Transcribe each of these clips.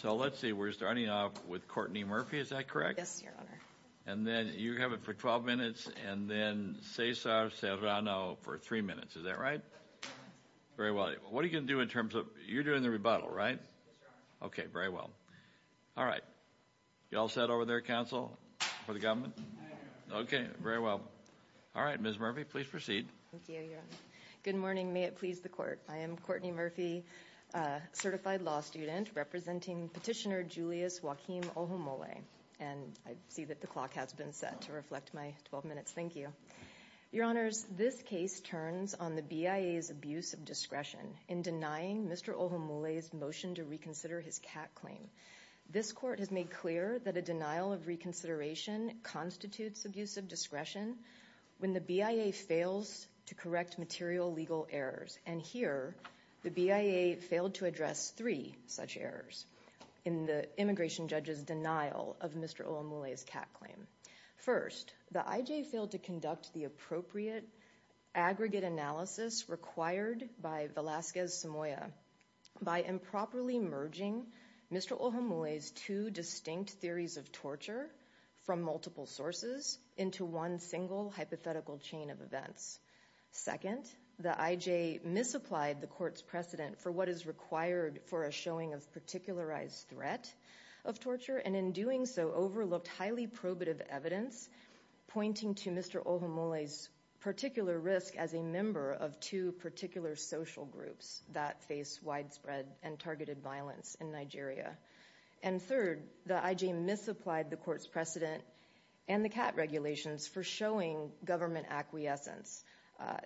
So let's see we're starting off with Courtney Murphy is that correct? Yes your honor. And then you have it for 12 minutes and then Cesar Serrano for three minutes is that right? Very well what are you going to do in terms of you're doing the rebuttal right? Okay very well all right you all set over there council for the government? Okay very well all right Ms. Murphy please proceed. Thank you your honor. Good morning may it please the court I am Courtney Murphy certified law student representing petitioner Julius Joaquin Ohumole and I see that the clock has been set to reflect my 12 minutes thank you. Your honors this case turns on the BIA's abuse of discretion in denying Mr. Ohumole's motion to reconsider his cat claim. This court has made clear that a denial of reconsideration constitutes abuse of discretion when the BIA fails to correct material legal errors and here the BIA failed to address three such errors in the immigration judge's denial of Mr. Ohumole's cat claim. First the IJ failed to conduct the appropriate aggregate analysis required by Velasquez-Samoya by improperly merging Mr. Ohumole's two distinct theories of torture from multiple sources into one single hypothetical chain of events. Second the IJ misapplied the court's precedent for what is required for a showing of particularized threat of torture and in doing so overlooked highly probative evidence pointing to Mr. Ohumole's particular risk as a member of two particular social groups that face widespread and targeted violence in Nigeria. And third the IJ misapplied the court's precedent and the cat regulations for showing government acquiescence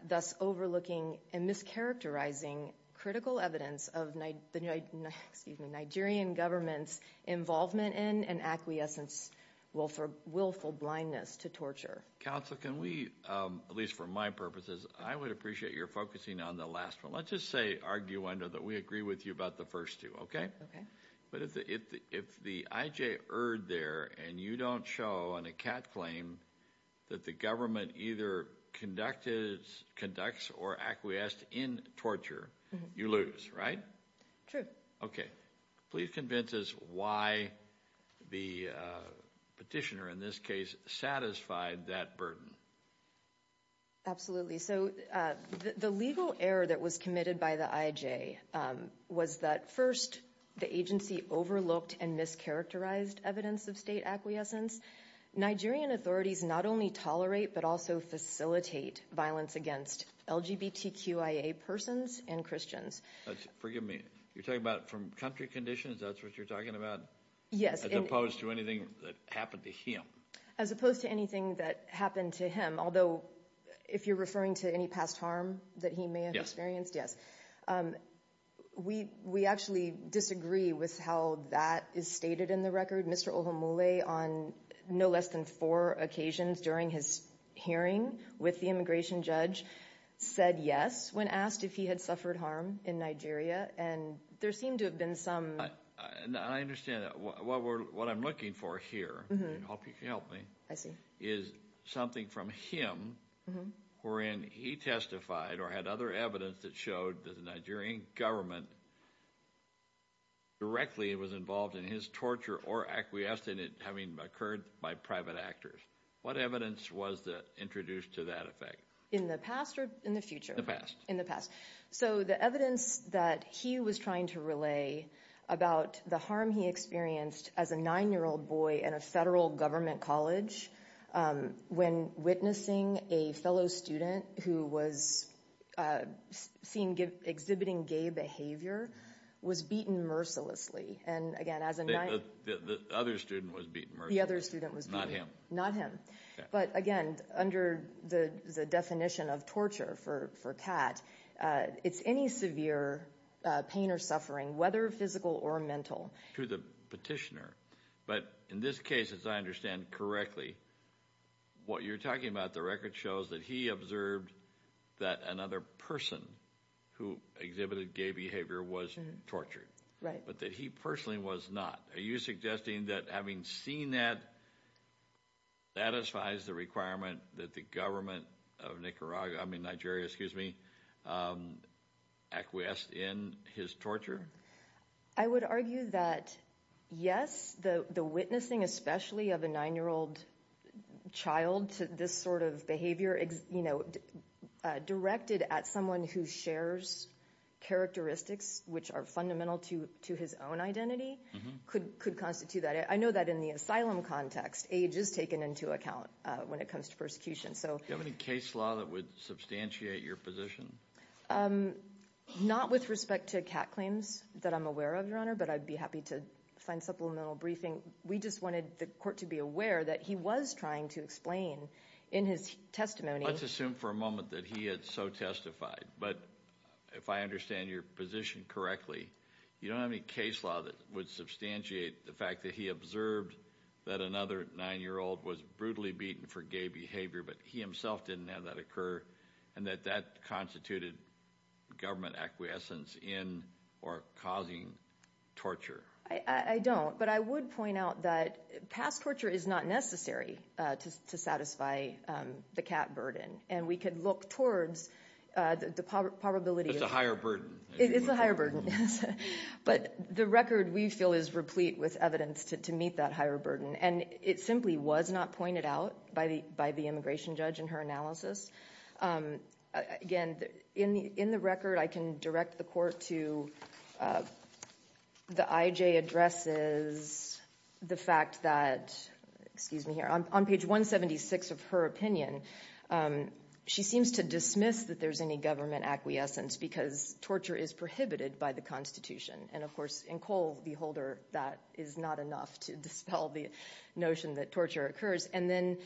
thus overlooking and mischaracterizing critical evidence of the Nigerian government's involvement in and acquiescence willful blindness to torture. Counsel can we um at least for my purposes I would appreciate your focusing on the last one let's just say arguendo that we agree with you about the first two okay. Okay. But if the if the IJ erred there and you don't show on a cat claim that the government either conducted conducts or acquiesced in torture you lose right? True. Okay please convince us why the petitioner in this case satisfied that burden. Absolutely so uh the legal error that was by the IJ was that first the agency overlooked and mischaracterized evidence of state acquiescence. Nigerian authorities not only tolerate but also facilitate violence against LGBTQIA persons and Christians. Forgive me you're talking about from country conditions that's what you're talking about? Yes. As opposed to anything that happened to him. As opposed to anything that happened to although if you're referring to any past harm that he may have experienced yes um we we actually disagree with how that is stated in the record. Mr. Ohomole on no less than four occasions during his hearing with the immigration judge said yes when asked if he had suffered harm in Nigeria and there seemed to have been some. I understand that what we're what I'm looking for here hope you can help me. I see. Is something from him wherein he testified or had other evidence that showed that the Nigerian government directly was involved in his torture or acquiesced in it having occurred by private actors. What evidence was that introduced to that effect? In the past or in the future? The past. In the past. So the evidence that he was trying to relay about the harm he experienced as a nine-year-old boy in a federal government college when witnessing a fellow student who was seen exhibiting gay behavior was beaten mercilessly and again as a other student was beaten the other student was not him not him but again under the the definition of torture for for cat uh it's any severe uh pain or suffering whether physical or mental. To the petitioner but in this case as I understand correctly what you're talking about the record shows that he observed that another person who exhibited gay behavior was tortured. Right. But that he personally was not. Are you suggesting that having seen that satisfies the requirement that the government of Nicaragua I mean Nigeria excuse me um acquiesced in his torture? I would argue that yes the the witnessing especially of a nine-year-old child to this sort of behavior you know directed at someone who shares characteristics which are fundamental to to his own identity could could constitute that. I know that in the asylum context age is taken into account uh when it comes to persecution so. Do you have any case law that would substantiate your position? Um not with respect to cat claims that I'm aware of your honor but I'd be happy to find supplemental briefing we just wanted the court to be aware that he was trying to explain in his testimony. Let's assume for a moment that he had so testified but if I understand your position correctly you don't have any case law that would substantiate the fact that he observed that another nine-year-old was brutally beaten for gay behavior but he himself didn't have that occur and that that constituted government acquiescence in or causing torture. I I don't but I would point out that past torture is not necessary uh to satisfy um the cat burden and we could look towards uh the probability. It's a higher burden. It's a higher burden yes but the record we feel is replete with evidence to meet that higher burden and it simply was not pointed out by the by the immigration judge in her analysis. Um again in the in the record I can direct the court to uh the IJ addresses the fact that excuse me here on page 176 of her opinion um she seems to dismiss that there's any government acquiescence because torture is prohibited by the constitution and of course in Cole the holder that is not enough to dispel the notion that torture occurs and then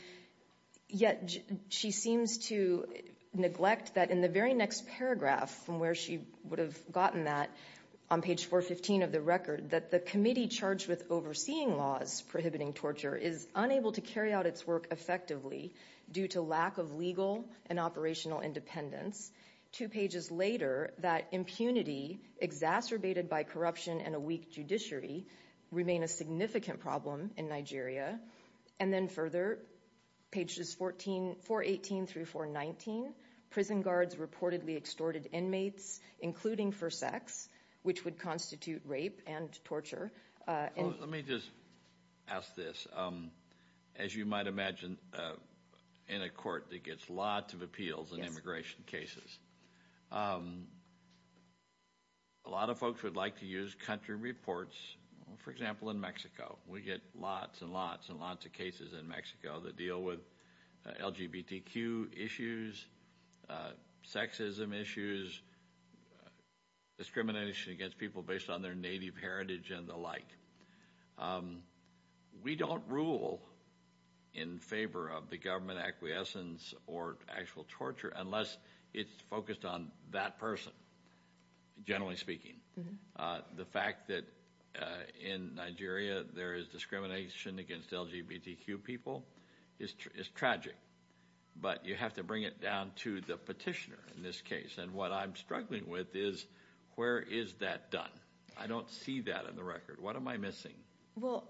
yet she seems to neglect that in the very next paragraph from where she would have gotten that on page 415 of the record that the committee charged with overseeing laws prohibiting torture is unable to carry out its work effectively due to lack of legal and operational independence. Two pages later that impunity exacerbated by corruption and a weak judiciary remain a significant problem in Nigeria and then further pages 14 418 through 419 prison guards reportedly extorted inmates including for sex which would constitute rape and torture uh and let me just um a lot of folks would like to use country reports for example in Mexico we get lots and lots and lots of cases in Mexico that deal with LGBTQ issues, sexism issues, discrimination against people based on their native heritage and the like. Um we don't rule in favor of the government acquiescence or actual torture unless it's focused on that person generally speaking uh the fact that uh in Nigeria there is discrimination against LGBTQ people is tragic but you have to bring it down to the petitioner in this case and what I'm struggling with is where is that done? I don't see that in the record. What am I missing? Well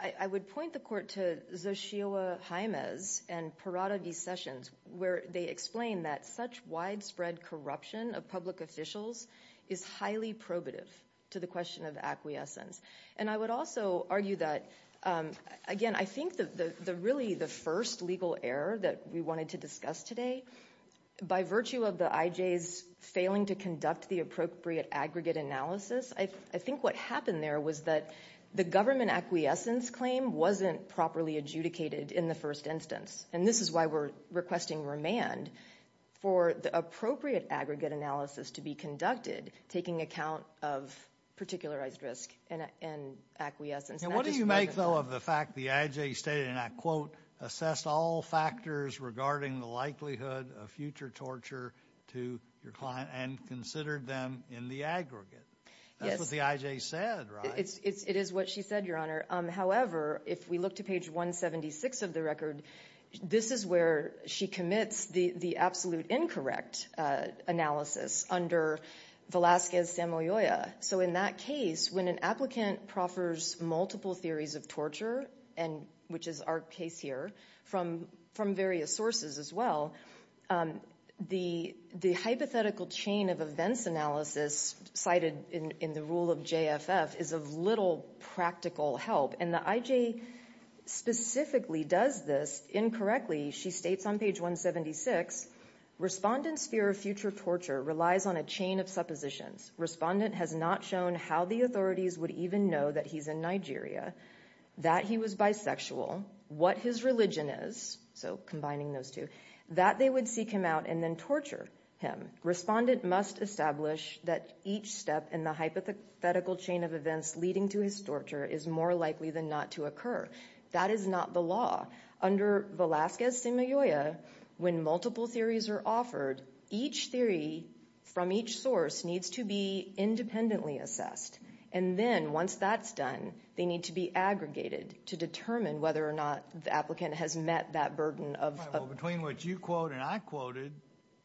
I I would point the court to Zosioa Jaimez and Parada de Sessions where they explain that such widespread corruption of public officials is highly probative to the question of acquiescence and I would also argue that um again I think that the the really the first legal error that we wanted to discuss today by virtue of the IJ's failing to conduct the appropriate aggregate analysis I think what happened there was that the government acquiescence claim wasn't properly adjudicated in the first instance and this is why we're requesting remand for the appropriate aggregate analysis to be conducted taking account of particularized risk and and acquiescence. What do you make though of the fact the IJ stated and I quote assessed all factors regarding the likelihood of future torture to your client and considered them in the aggregate? That's what the IJ said right? It's it is what she said your honor um however if we look to page 176 of the record this is where she commits the the absolute incorrect uh analysis under Velazquez-Samoyoya so in that case when an applicant proffers multiple theories of torture and which is our case here from from various sources as well um the the hypothetical chain of events analysis cited in in the rule of JFF is of little practical help and the IJ specifically does this incorrectly she states on page 176 respondents fear of future torture relies on a chain of suppositions respondent has not shown how the authorities would even know that he's in Nigeria that he was bisexual what his religion is so combining those two that they would seek him out and then torture him respondent must establish that each step in the hypothetical chain of events leading to his torture is more likely than not to occur that is not the law under Velazquez-Samoyoya when multiple theories are offered each theory from each source needs to be independently assessed and then once that's done they need to be aggregated to determine whether or not the applicant has met that burden of between what you quote and I quoted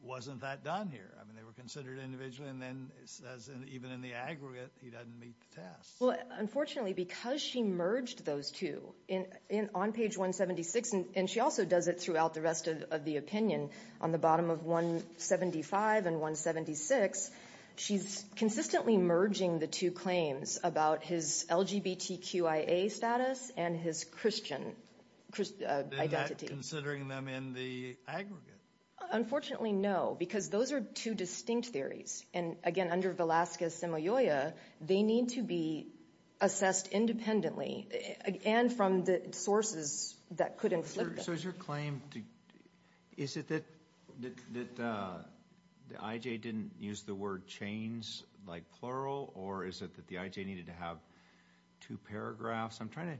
wasn't that done here I mean they were considered individually and then as even in the aggregate he doesn't meet the test well unfortunately because she merged those two in in on page 176 and she also does it throughout the of the opinion on the bottom of 175 and 176 she's consistently merging the two claims about his LGBTQIA status and his Christian identity considering them in the aggregate unfortunately no because those are two distinct theories and again under Velazquez-Samoyoya they need to be is it that that uh the IJ didn't use the word chains like plural or is it that the IJ needed to have two paragraphs I'm trying to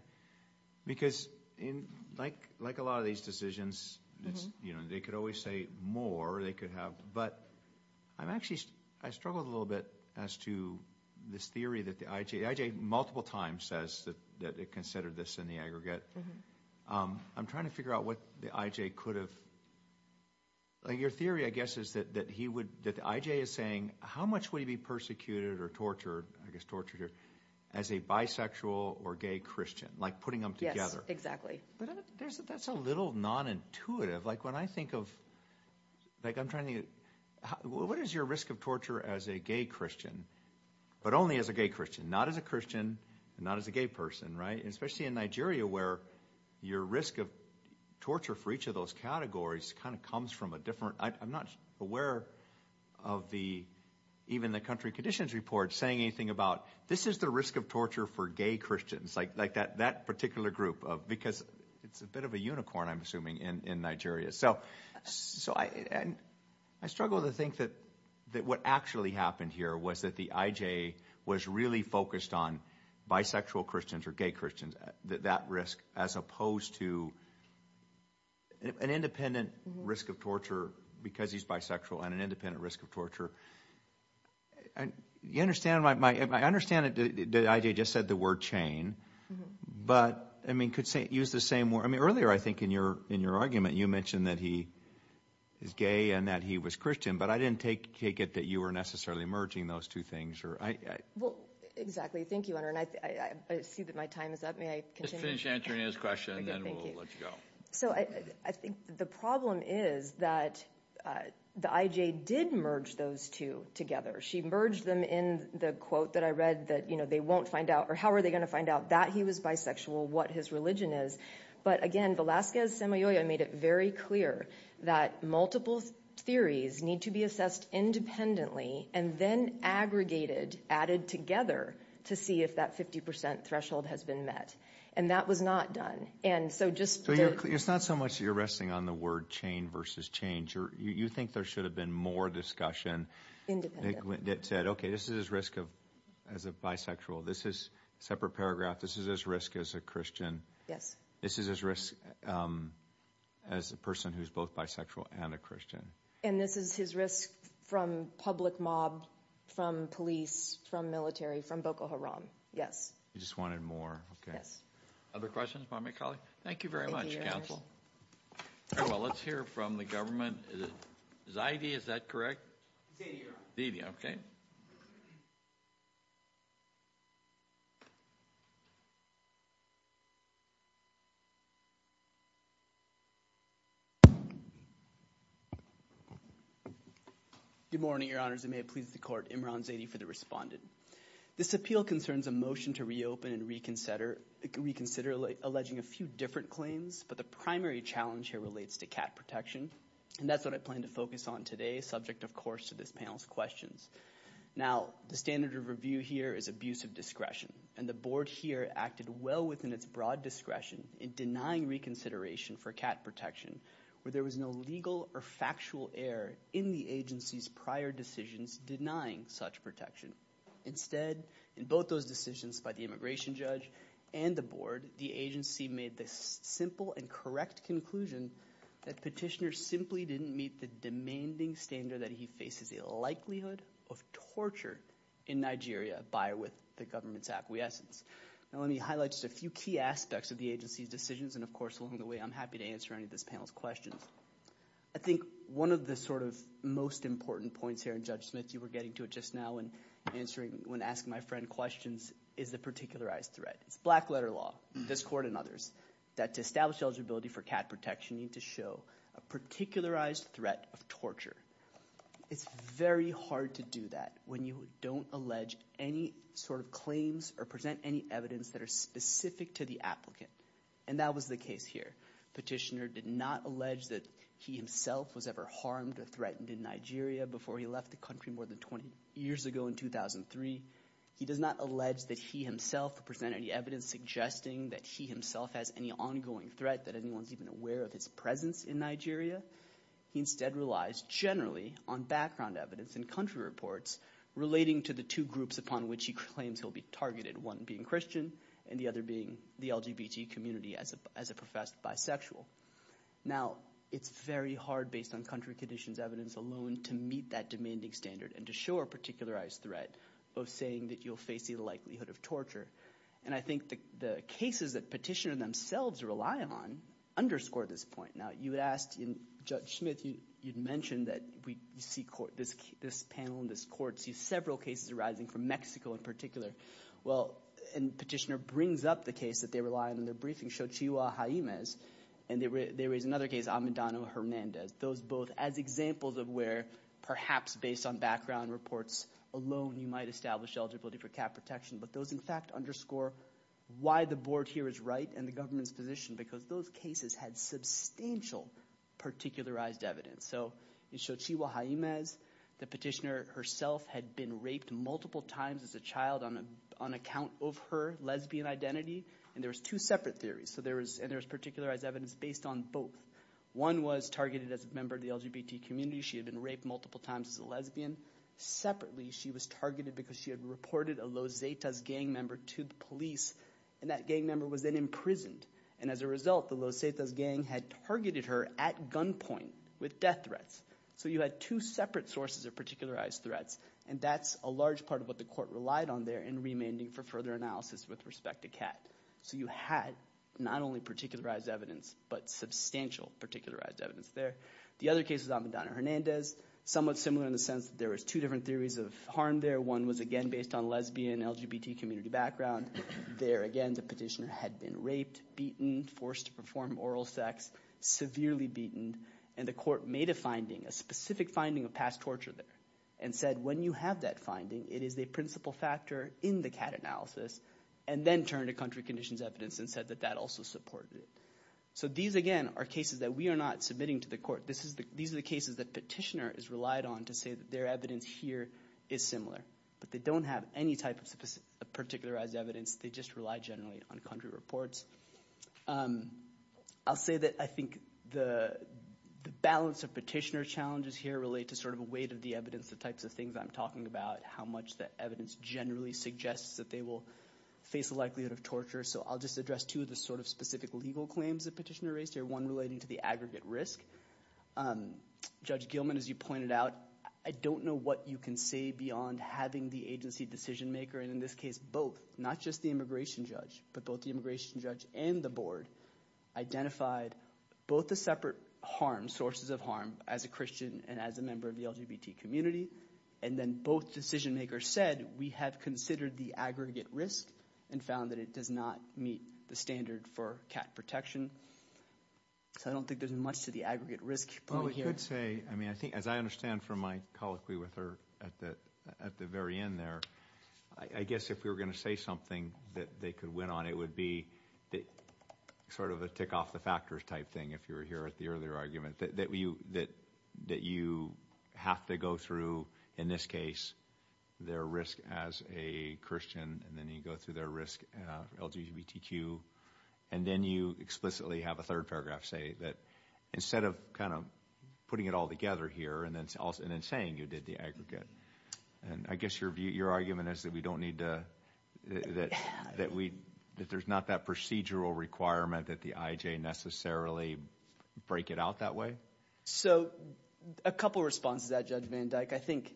because in like like a lot of these decisions it's you know they could always say more they could have but I'm actually I struggled a little bit as to this theory that the IJ multiple times says that that they considered this in the aggregate um I'm trying to figure out what the IJ could have like your theory I guess is that that he would that the IJ is saying how much would he be persecuted or tortured I guess tortured here as a bisexual or gay Christian like putting them together exactly but there's that's a little non-intuitive like when I think of like I'm trying to what is your risk of torture as a gay Christian but only as a gay Christian not as a Christian not as a gay person right especially in Nigeria where your risk of torture for each of those categories kind of comes from a different I'm not aware of the even the country conditions report saying anything about this is the risk of torture for gay Christians like like that that particular group of because it's a bit of a unicorn I'm assuming in in Nigeria so so I and I struggle to think that that what actually happened here was the IJ was really focused on bisexual Christians or gay Christians that that risk as opposed to an independent risk of torture because he's bisexual and an independent risk of torture and you understand my I understand it did IJ just said the word chain but I mean could say use the same word I mean earlier I think in your in your argument you mentioned that he is gay and that he was Christian but I didn't take take it that you were necessarily merging those two things or I well exactly thank you on her and I I see that my time is up may I finish answering his question and then we'll let you go so I I think the problem is that the IJ did merge those two together she merged them in the quote that I read that you know they won't find out or how are they going to find out that he was bisexual what his religion is but again Velasquez made it very clear that multiple theories need to be assessed independently and then aggregated added together to see if that 50 threshold has been met and that was not done and so just it's not so much you're resting on the word chain versus change or you think there should have been more discussion independent it said okay this is his risk of as a bisexual this is separate paragraph this is as risk as a Christian yes this is as risk as a person who's both bisexual and a Christian and this is his risk from public mob from police from military from Boko Haram yes you just wanted more okay yes other questions by my colleague thank you very much counsel well let's hear from the government is it his idea is that correct okay you good morning your honors it may please the court Imran Zaidi for the respondent this appeal concerns a motion to reopen and reconsider reconsider alleging a few different claims but the primary challenge here relates to cat protection and that's what I plan to focus on today subject of course to this panel's questions now the standard of review here is abuse of discretion and the board here acted well within its broad discretion in denying reconsideration for cat protection where there was no legal or factual error in the agency's prior decisions denying such protection instead in both those decisions by the immigration judge and the board the agency made this simple and correct conclusion that petitioner simply didn't meet the demanding standard that he faces a likelihood of torture in Nigeria by with the government's acquiescence now let me highlight just a few key aspects of the agency's decisions and of course along the way I'm happy to answer any of this panel's questions I think one of the sort of most important points here in Judge Smith you were getting to it just now and answering when asking my friend questions is the particularized threat it's black letter law this court and others that establish eligibility for cat protection need to show a particularized threat of torture it's very hard to do that when you don't allege any sort of claims or present any evidence that are specific to the applicant and that was the case here petitioner did not allege that he himself was ever harmed or threatened in Nigeria before he left the country more than 20 years ago in 2003 he does not allege that he himself presented any evidence suggesting that he himself has any ongoing threat that anyone's even aware of his presence in Nigeria he instead relies generally on background evidence and country reports relating to the two groups upon which he claims he'll be targeted one being Christian and the other being the LGBT community as a professed bisexual now it's very hard based on country conditions evidence alone to meet that demanding standard and to show a particularized threat of saying that you'll face the likelihood of torture and I think the the cases that petitioner themselves rely on underscore this point now you would ask in judge smith you you'd mention that we see court this this panel in this court see several cases arising from Mexico in particular well and petitioner brings up the case that they rely on in their briefing show chihuahua jaimes and there is another case amadano hernandez those both as examples of where perhaps based on background reports alone you might establish eligibility for cap protection but those in fact underscore why the board here is right and the government's position because those cases had substantial particularized evidence so it showed chihuahua jaimes the petitioner herself had been raped multiple times as a child on a on account of her lesbian identity and there was two separate theories so there was and there was particularized evidence based on both one was targeted as a member of the LGBT community she had been raped multiple times as a lesbian separately she was targeted because she had reported a lozetas gang member to the police and that gang member was then imprisoned and as a result the lozetas gang had targeted her at gunpoint with death threats so you had two separate sources of particularized threats and that's a large part of what the court relied on there in remaining for further analysis with respect to cat so you had not only particularized evidence but substantial particularized evidence there the other case was abadano hernandez somewhat similar in the sense that there was two different theories of harm there one was again based on lesbian lgbt community background there again the petitioner had been raped beaten forced to perform oral sex severely beaten and the court made a finding a specific finding of past torture there and said when you have that finding it is the principal factor in the cat analysis and then turned to country conditions evidence and said that that also supported it so these again are cases that we are not submitting to the court this is the these are the cases that petitioner is relied on to say that their evidence here is similar but they don't have any type of particularized evidence they just rely generally on country reports um i'll say that i think the the balance of petitioner challenges here relate to sort of a weight of the evidence the types of things i'm talking about how much the evidence generally suggests that they will face the likelihood of torture so i'll just address two of the sort of specific legal claims the petitioner raised here one relating to the aggregate risk um judge gilman as you pointed out i don't know what you can say beyond having the agency decision maker and in this case both not just the immigration judge but both the immigration judge and the board identified both the separate harm sources of harm as a christian and as a considered the aggregate risk and found that it does not meet the standard for cat protection so i don't think there's much to the aggregate risk well we could say i mean i think as i understand from my colloquy with her at the at the very end there i guess if we were going to say something that they could win on it would be that sort of a tick off the factors type thing if you were here at the earlier argument that you that that you have to go through in this case their risk as a christian and then you go through their risk uh lgbtq and then you explicitly have a third paragraph say that instead of kind of putting it all together here and then also and then saying you did the aggregate and i guess your view your argument is that we don't need to that that we that there's not that procedural requirement that the ij necessarily break it so a couple responses that judge van dyke i think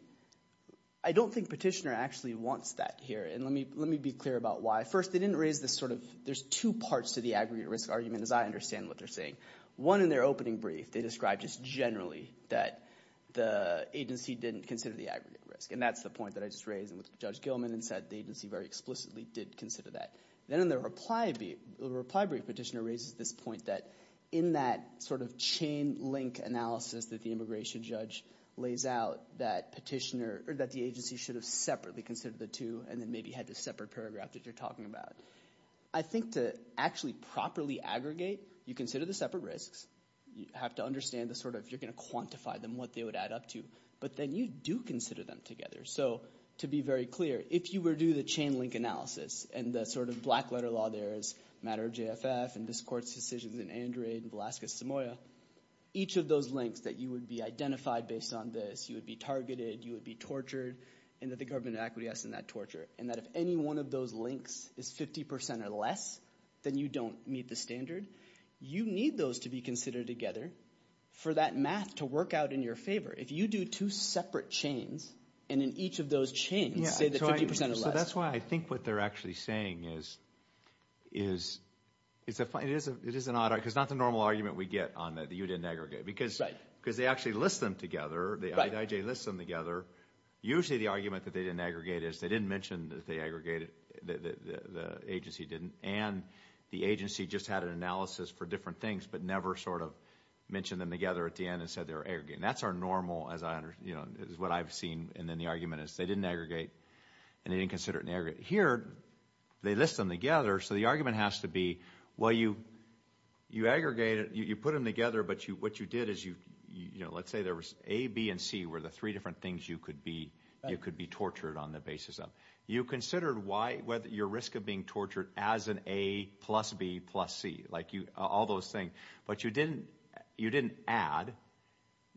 i don't think petitioner actually wants that here and let me let me be clear about why first they didn't raise this sort of there's two parts to the aggregate risk argument as i understand what they're saying one in their opening brief they describe just generally that the agency didn't consider the aggregate risk and that's the point that i just raised with judge gilman and said the agency very explicitly did consider that then in the reply the reply brief petitioner raises this point that in that sort of chain link analysis that the immigration judge lays out that petitioner or that the agency should have separately considered the two and then maybe had a separate paragraph that you're talking about i think to actually properly aggregate you consider the separate risks you have to understand the sort of you're going to quantify them what they would add up to but then you do consider them together so to be very clear if you were to do the chain link analysis and the sort of black letter law there is matter jff and this court's decisions in andre and alaska samoa each of those links that you would be identified based on this you would be targeted you would be tortured and that the government of equity has in that torture and that if any one of those links is 50 or less then you don't meet the standard you need those to be considered together for that math to work out in your favor if you do two separate chains and in each of those chains say that so that's why i think what they're actually saying is is it's a it is a it is an odd because not the normal argument we get on that you didn't aggregate because right because they actually list them together the ij lists them together usually the argument that they didn't aggregate is they didn't mention that they aggregated the the agency didn't and the agency just had an analysis for different things but never sort of mentioned them together at the end and said they were aggregating that's our normal as i understand you know is what i've seen and then the argument is they didn't aggregate and they didn't consider it here they list them together so the argument has to be well you you aggregate it you put them together but you what you did is you you know let's say there was a b and c were the three different things you could be you could be tortured on the basis of you considered why whether your risk of being tortured as an a plus b plus c like you all those things but you didn't you didn't add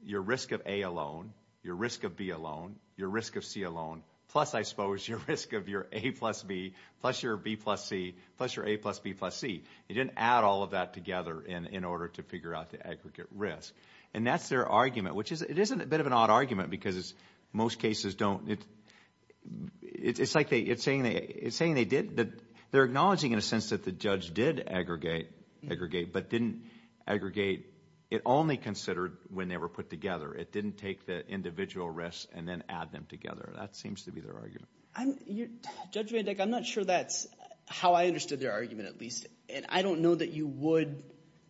your risk of a alone your risk of b alone your risk of c alone plus i suppose your risk of your a plus b plus your b plus c plus your a plus b plus c you didn't add all of that together in in order to figure out the aggregate risk and that's their argument which is it isn't a bit of an odd argument because most cases don't it it's like they it's saying they did but they're acknowledging in a sense that the judge did aggregate aggregate but didn't aggregate it only considered when they were put together it didn't take the individual risks and then add them together that seems to be their argument i'm you judge van dek i'm not sure that's how i understood their argument at least and i don't know that you would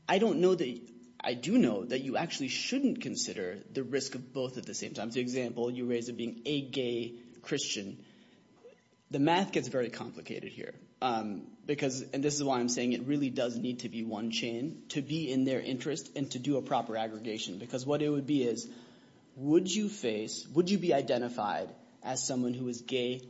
i don't know that i do know that you actually shouldn't consider the risk of both at the same example you raise of being a gay christian the math gets very complicated here um because and this is why i'm saying it really does need to be one chain to be in their interest and to do a proper aggregation because what it would be is would you face would you be identified as someone who is gay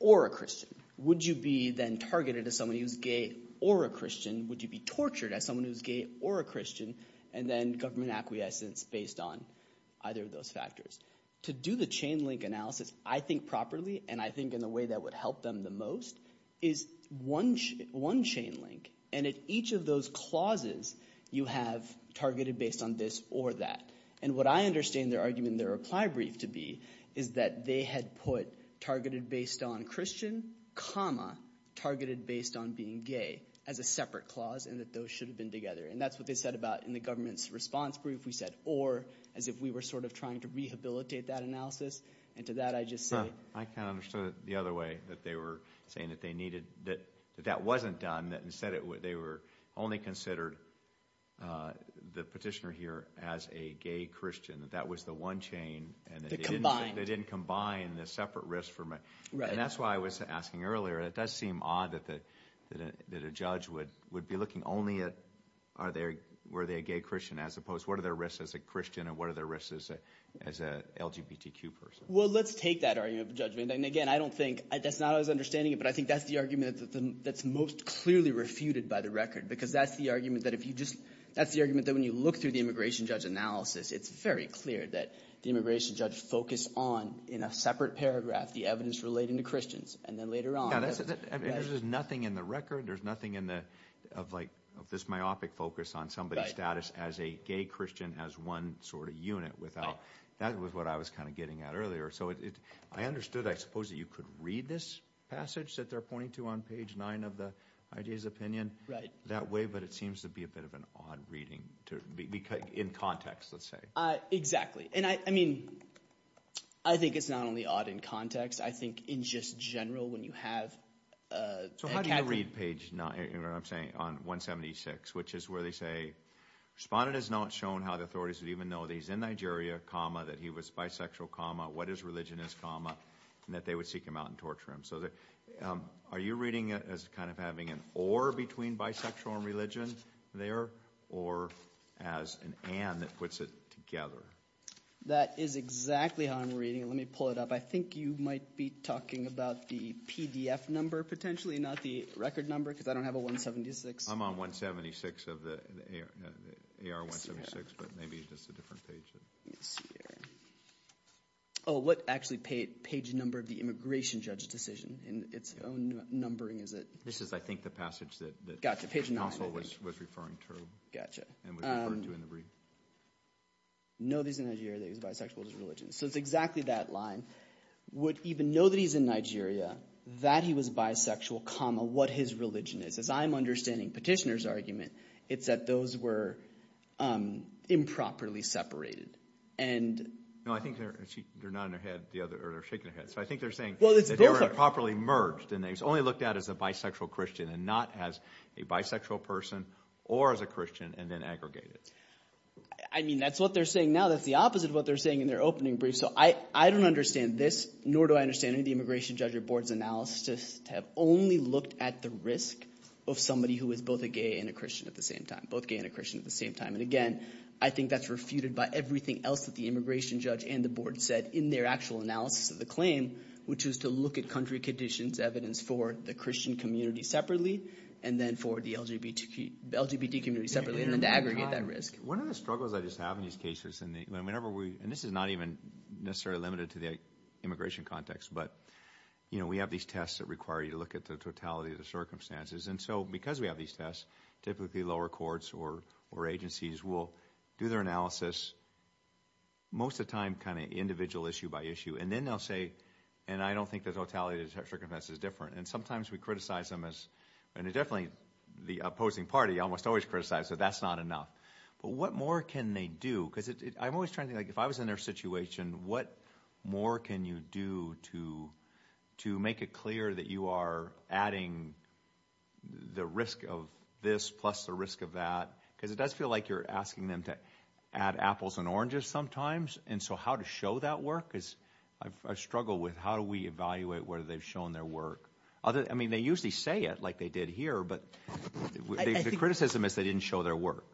or a christian would you be then targeted as someone who's gay or a christian would you be tortured as someone who's gay or a christian and then government acquiescence based on either of those factors to do the chain link analysis i think properly and i think in the way that would help them the most is one one chain link and at each of those clauses you have targeted based on this or that and what i understand their argument their reply brief to be is that they had put targeted based on christian comma targeted based on being gay as a separate clause and that those should have been together and that's what they said about in the government's response brief we said or as if we were sort of trying to rehabilitate that analysis and to that i just said i kind of understood the other way that they were saying that they needed that that wasn't done that instead they were only considered uh the petitioner here as a gay christian that that was the one chain and they didn't combine the separate risks for me and that's why i was asking earlier it does seem odd that the that a judge would would be looking only at are they were they a gay christian as opposed what are their risks as a christian and what are their risks as a as a lgbtq person well let's take that argument judgment and again i don't think that's not as understanding it but i think that's the argument that's most clearly refuted by the record because that's the argument that if you just that's the argument that when you look through the immigration judge analysis it's very clear that the immigration judge focused on in a separate paragraph the evidence relating to christians and then later on there's nothing in the record there's nothing in the of like this myopic focus on somebody's status as a gay christian as one sort of unit without that was what i was kind of getting at earlier so it i understood i suppose that you could read this passage that they're pointing to on page nine of the idea's opinion right that way but it seems to be a bit of an odd reading to be because in context let's say uh exactly and i i mean i think it's not only odd in context i think in just general when you have uh so how do you read page nine or i'm saying on 176 which is where they say respondent has not shown how the authorities would even know that he's in nigeria comma that he was bisexual comma what is religion is comma and that they would seek him out and torture him so that um are you reading it as kind of having an or between bisexual and religion there or as an and that puts it together that is exactly how i'm reading it let me pull it up i think you might be talking about the pdf number potentially not the record number because i don't have a 176 i'm on 176 of the ar 176 but maybe it's just a different page let's see here oh what actually page number of the immigration judge's decision in its own numbering is it this is i think the passage that got to page 9 was was referring to gotcha and we referred to in the brief know these in nigeria that he's bisexual is religion so it's that line would even know that he's in nigeria that he was bisexual comma what his religion is as i'm understanding petitioner's argument it's that those were um improperly separated and no i think they're they're not in their head the other or they're shaking their head so i think they're saying well it's improperly merged and they've only looked at as a bisexual christian and not as a bisexual person or as a christian and then aggregated i mean that's what they're saying now that's the opposite of what they're saying in their opening brief so i i don't understand this nor do i understand the immigration judge or board's analysis to have only looked at the risk of somebody who is both a gay and a christian at the same time both gay and a christian at the same time and again i think that's refuted by everything else that the immigration judge and the board said in their actual analysis of the claim which was to look at country conditions evidence for the christian community separately and then for the lgbtq lgbt community separately aggregate that risk one of the struggles i just have in these cases and whenever we and this is not even necessarily limited to the immigration context but you know we have these tests that require you to look at the totality of the circumstances and so because we have these tests typically lower courts or or agencies will do their analysis most of the time kind of individual issue by issue and then they'll say and i don't think the totality of circumference is different and sometimes we criticize them as and it's definitely the opposing party almost always so that's not enough but what more can they do because i'm always trying to like if i was in their situation what more can you do to to make it clear that you are adding the risk of this plus the risk of that because it does feel like you're asking them to add apples and oranges sometimes and so how to show that work is i've struggled with how do we evaluate whether they've shown their work other i mean they usually say it like they did here but the criticism is they didn't show their work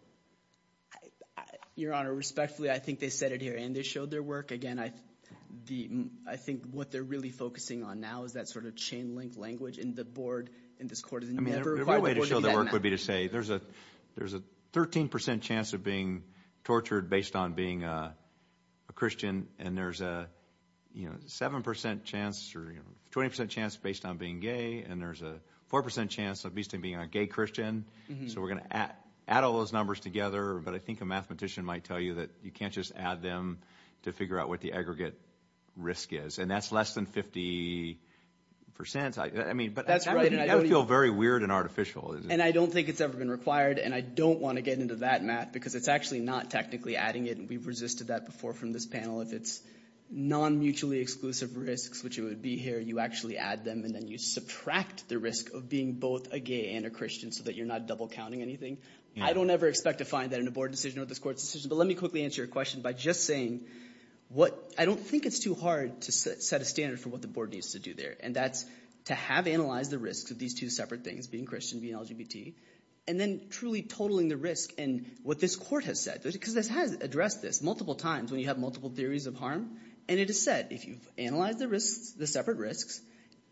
your honor respectfully i think they said it here and they showed their work again i the i think what they're really focusing on now is that sort of chain-linked language in the board in this court i mean every way to show their work would be to say there's a there's a 13 percent chance of being tortured based on being a christian and there's a you know seven percent chance or you know twenty percent chance based on being gay and there's a four percent chance of being a gay christian so we're going to add all those numbers together but i think a mathematician might tell you that you can't just add them to figure out what the aggregate risk is and that's less than 50 percent i mean but that's right and i don't feel very weird and artificial and i don't think it's ever been required and i don't want to get into that matt because it's actually not technically adding it and we've resisted that before from this panel if it's non-mutually exclusive risks which it would be here you actually add them and then you subtract the risk of being both a gay and a christian so that you're not double counting anything i don't ever expect to find that in a board decision or this court's decision but let me quickly answer your question by just saying what i don't think it's too hard to set a standard for what the board needs to do there and that's to have analyzed the risks of these two separate things being christian being lgbt and then truly totaling the risk and what this court has said because this has addressed this multiple times when you have multiple theories of harm and it is said if you've analyzed the risks the separate risks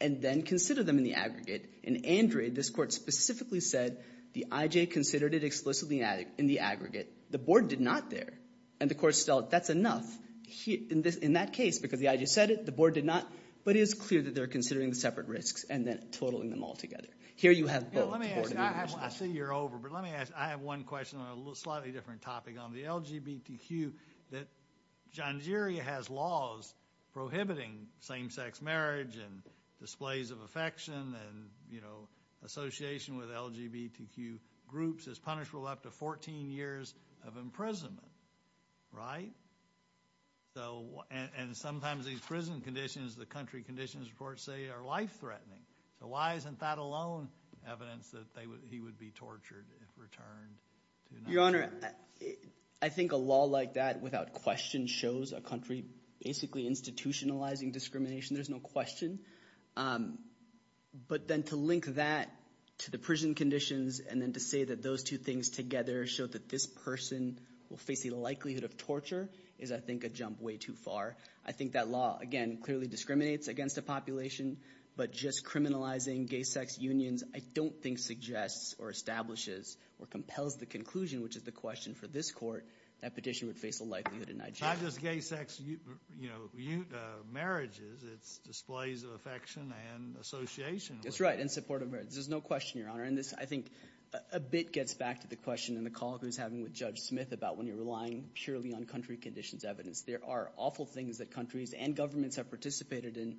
and then consider them in the aggregate in andre this court specifically said the ij considered it explicitly in the aggregate the board did not there and the court felt that's enough he in this in that case because the i just said it the board did not but it's clear that they're considering the separate risks and then totaling them all together here you have let me ask i see you're over but let me ask i have one question on a slightly different topic on the lgbtq that janjiri has laws prohibiting same-sex marriage and displays of affection and you know association with lgbtq groups is punishable up to 14 years of imprisonment right so and sometimes these prison conditions the country conditions reports say are life-threatening so why isn't that alone evidence that they would he would be returned your honor i think a law like that without question shows a country basically institutionalizing discrimination there's no question um but then to link that to the prison conditions and then to say that those two things together showed that this person will face the likelihood of torture is i think a jump way too far i think that law again clearly discriminates against a population but just criminalizing gay sex unions i don't think suggests or establishes or compels the conclusion which is the question for this court that petition would face a likelihood in nigeria just gay sex you know you uh marriages it's displays of affection and association that's right in support of marriage there's no question your honor and this i think a bit gets back to the question and the call who's having with judge smith about when you're relying purely on country conditions evidence there are awful things that countries and governments have participated in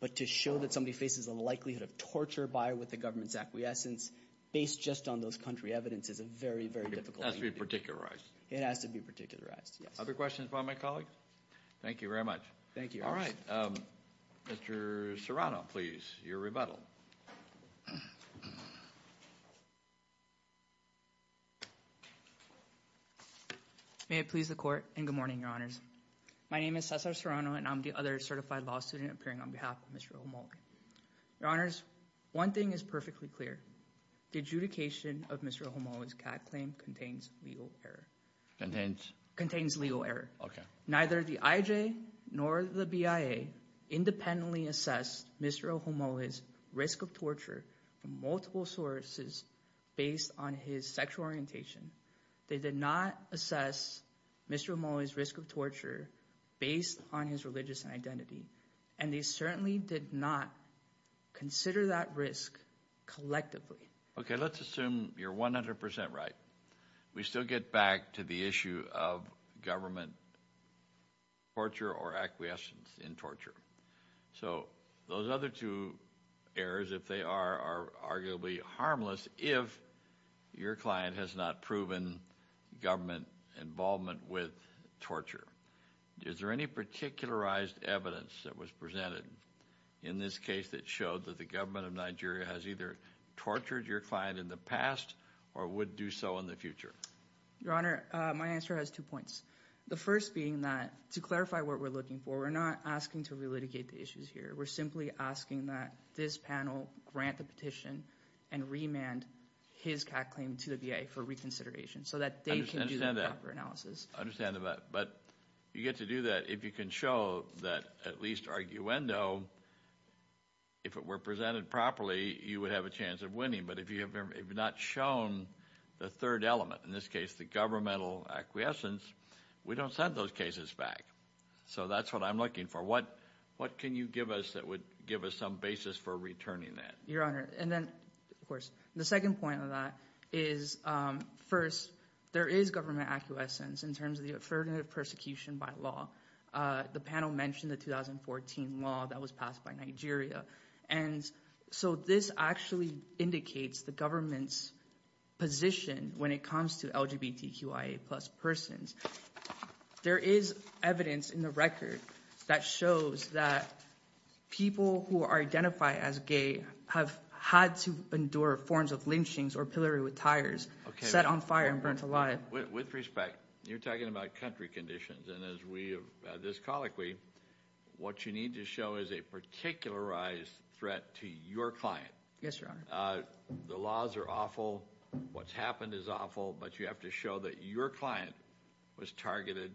but to show that somebody faces a likelihood of torture by with the government's acquiescence based just on those country evidence is a very very difficult to be particularized it has to be particularized yes other questions about my colleague thank you very much thank you all right um mr serrano please your rebuttal may it please the court and good morning your honors my name is cesar serrano and i'm the other one thing is perfectly clear the adjudication of mr homo's cat claim contains legal error contains contains legal error okay neither the ij nor the bia independently assessed mr homo is risk of torture from multiple sources based on his sexual orientation they did not assess mr homo's risk of torture based on his religious identity and they certainly did not consider that risk collectively okay let's assume you're 100 right we still get back to the issue of government torture or acquiescence in torture so those other two errors if they are are arguably harmless if your client has not proven government involvement with torture is there any particularized evidence that was presented in this case that showed that the government of nigeria has either tortured your client in the past or would do so in the future your honor my answer has two points the first being that to clarify what we're looking for we're not asking to relitigate the issues here we're simply asking that this panel grant the petition and remand his cat claim to the va for reconsideration so that they can do the proper understanding that but you get to do that if you can show that at least arguendo if it were presented properly you would have a chance of winning but if you have not shown the third element in this case the governmental acquiescence we don't send those cases back so that's what i'm looking for what what can you give us that would give us some basis for returning that your honor and then of course the second point of that is um first there is government acquiescence in terms of the affirmative persecution by law uh the panel mentioned the 2014 law that was passed by nigeria and so this actually indicates the government's position when it comes to lgbtqia plus persons there is evidence in the record that shows that people who are identified as gay have had to endure forms of lynchings or pillory with tires set on fire and burnt alive with respect you're talking about country conditions and as we have this colloquy what you need to show is a particularized threat to your client yes your honor uh the laws are awful what's happened is awful but you have to show that your client was targeted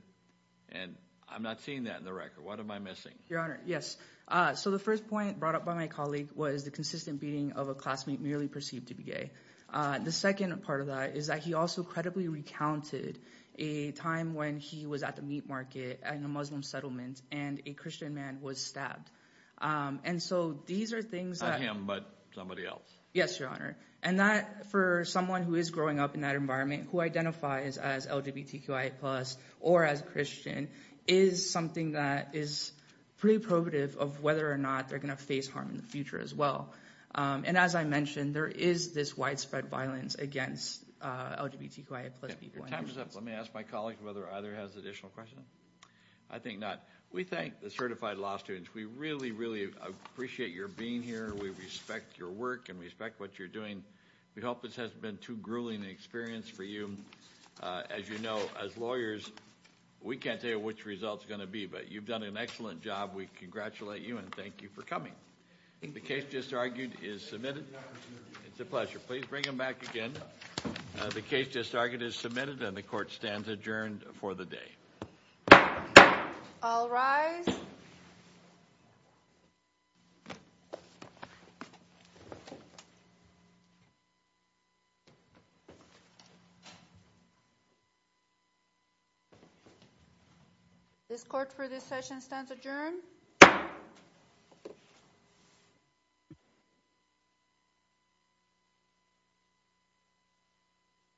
and i'm not seeing that in the record what am i missing your honor yes uh so the first point brought up by my colleague was the consistent beating of a classmate merely perceived to be gay uh the second part of that is that he also credibly recounted a time when he was at the meat market in a muslim settlement and a christian man was stabbed um and so these are things not him but somebody else yes your honor and that for someone who is growing up in that environment who identifies as lgbtqia plus or as christian is something that is pretty probative of whether or this widespread violence against uh lgbtqia plus people your time is up let me ask my colleagues whether either has additional questions i think not we thank the certified law students we really really appreciate your being here we respect your work and respect what you're doing we hope this hasn't been too grueling an experience for you as you know as lawyers we can't tell you which results going to be but you've done an excellent job we congratulate you and thank you for coming the case just argued is submitted it's a pleasure please bring them back again the case just argued is submitted and the court stands adjourned for the day i'll rise this court for this session stands adjourned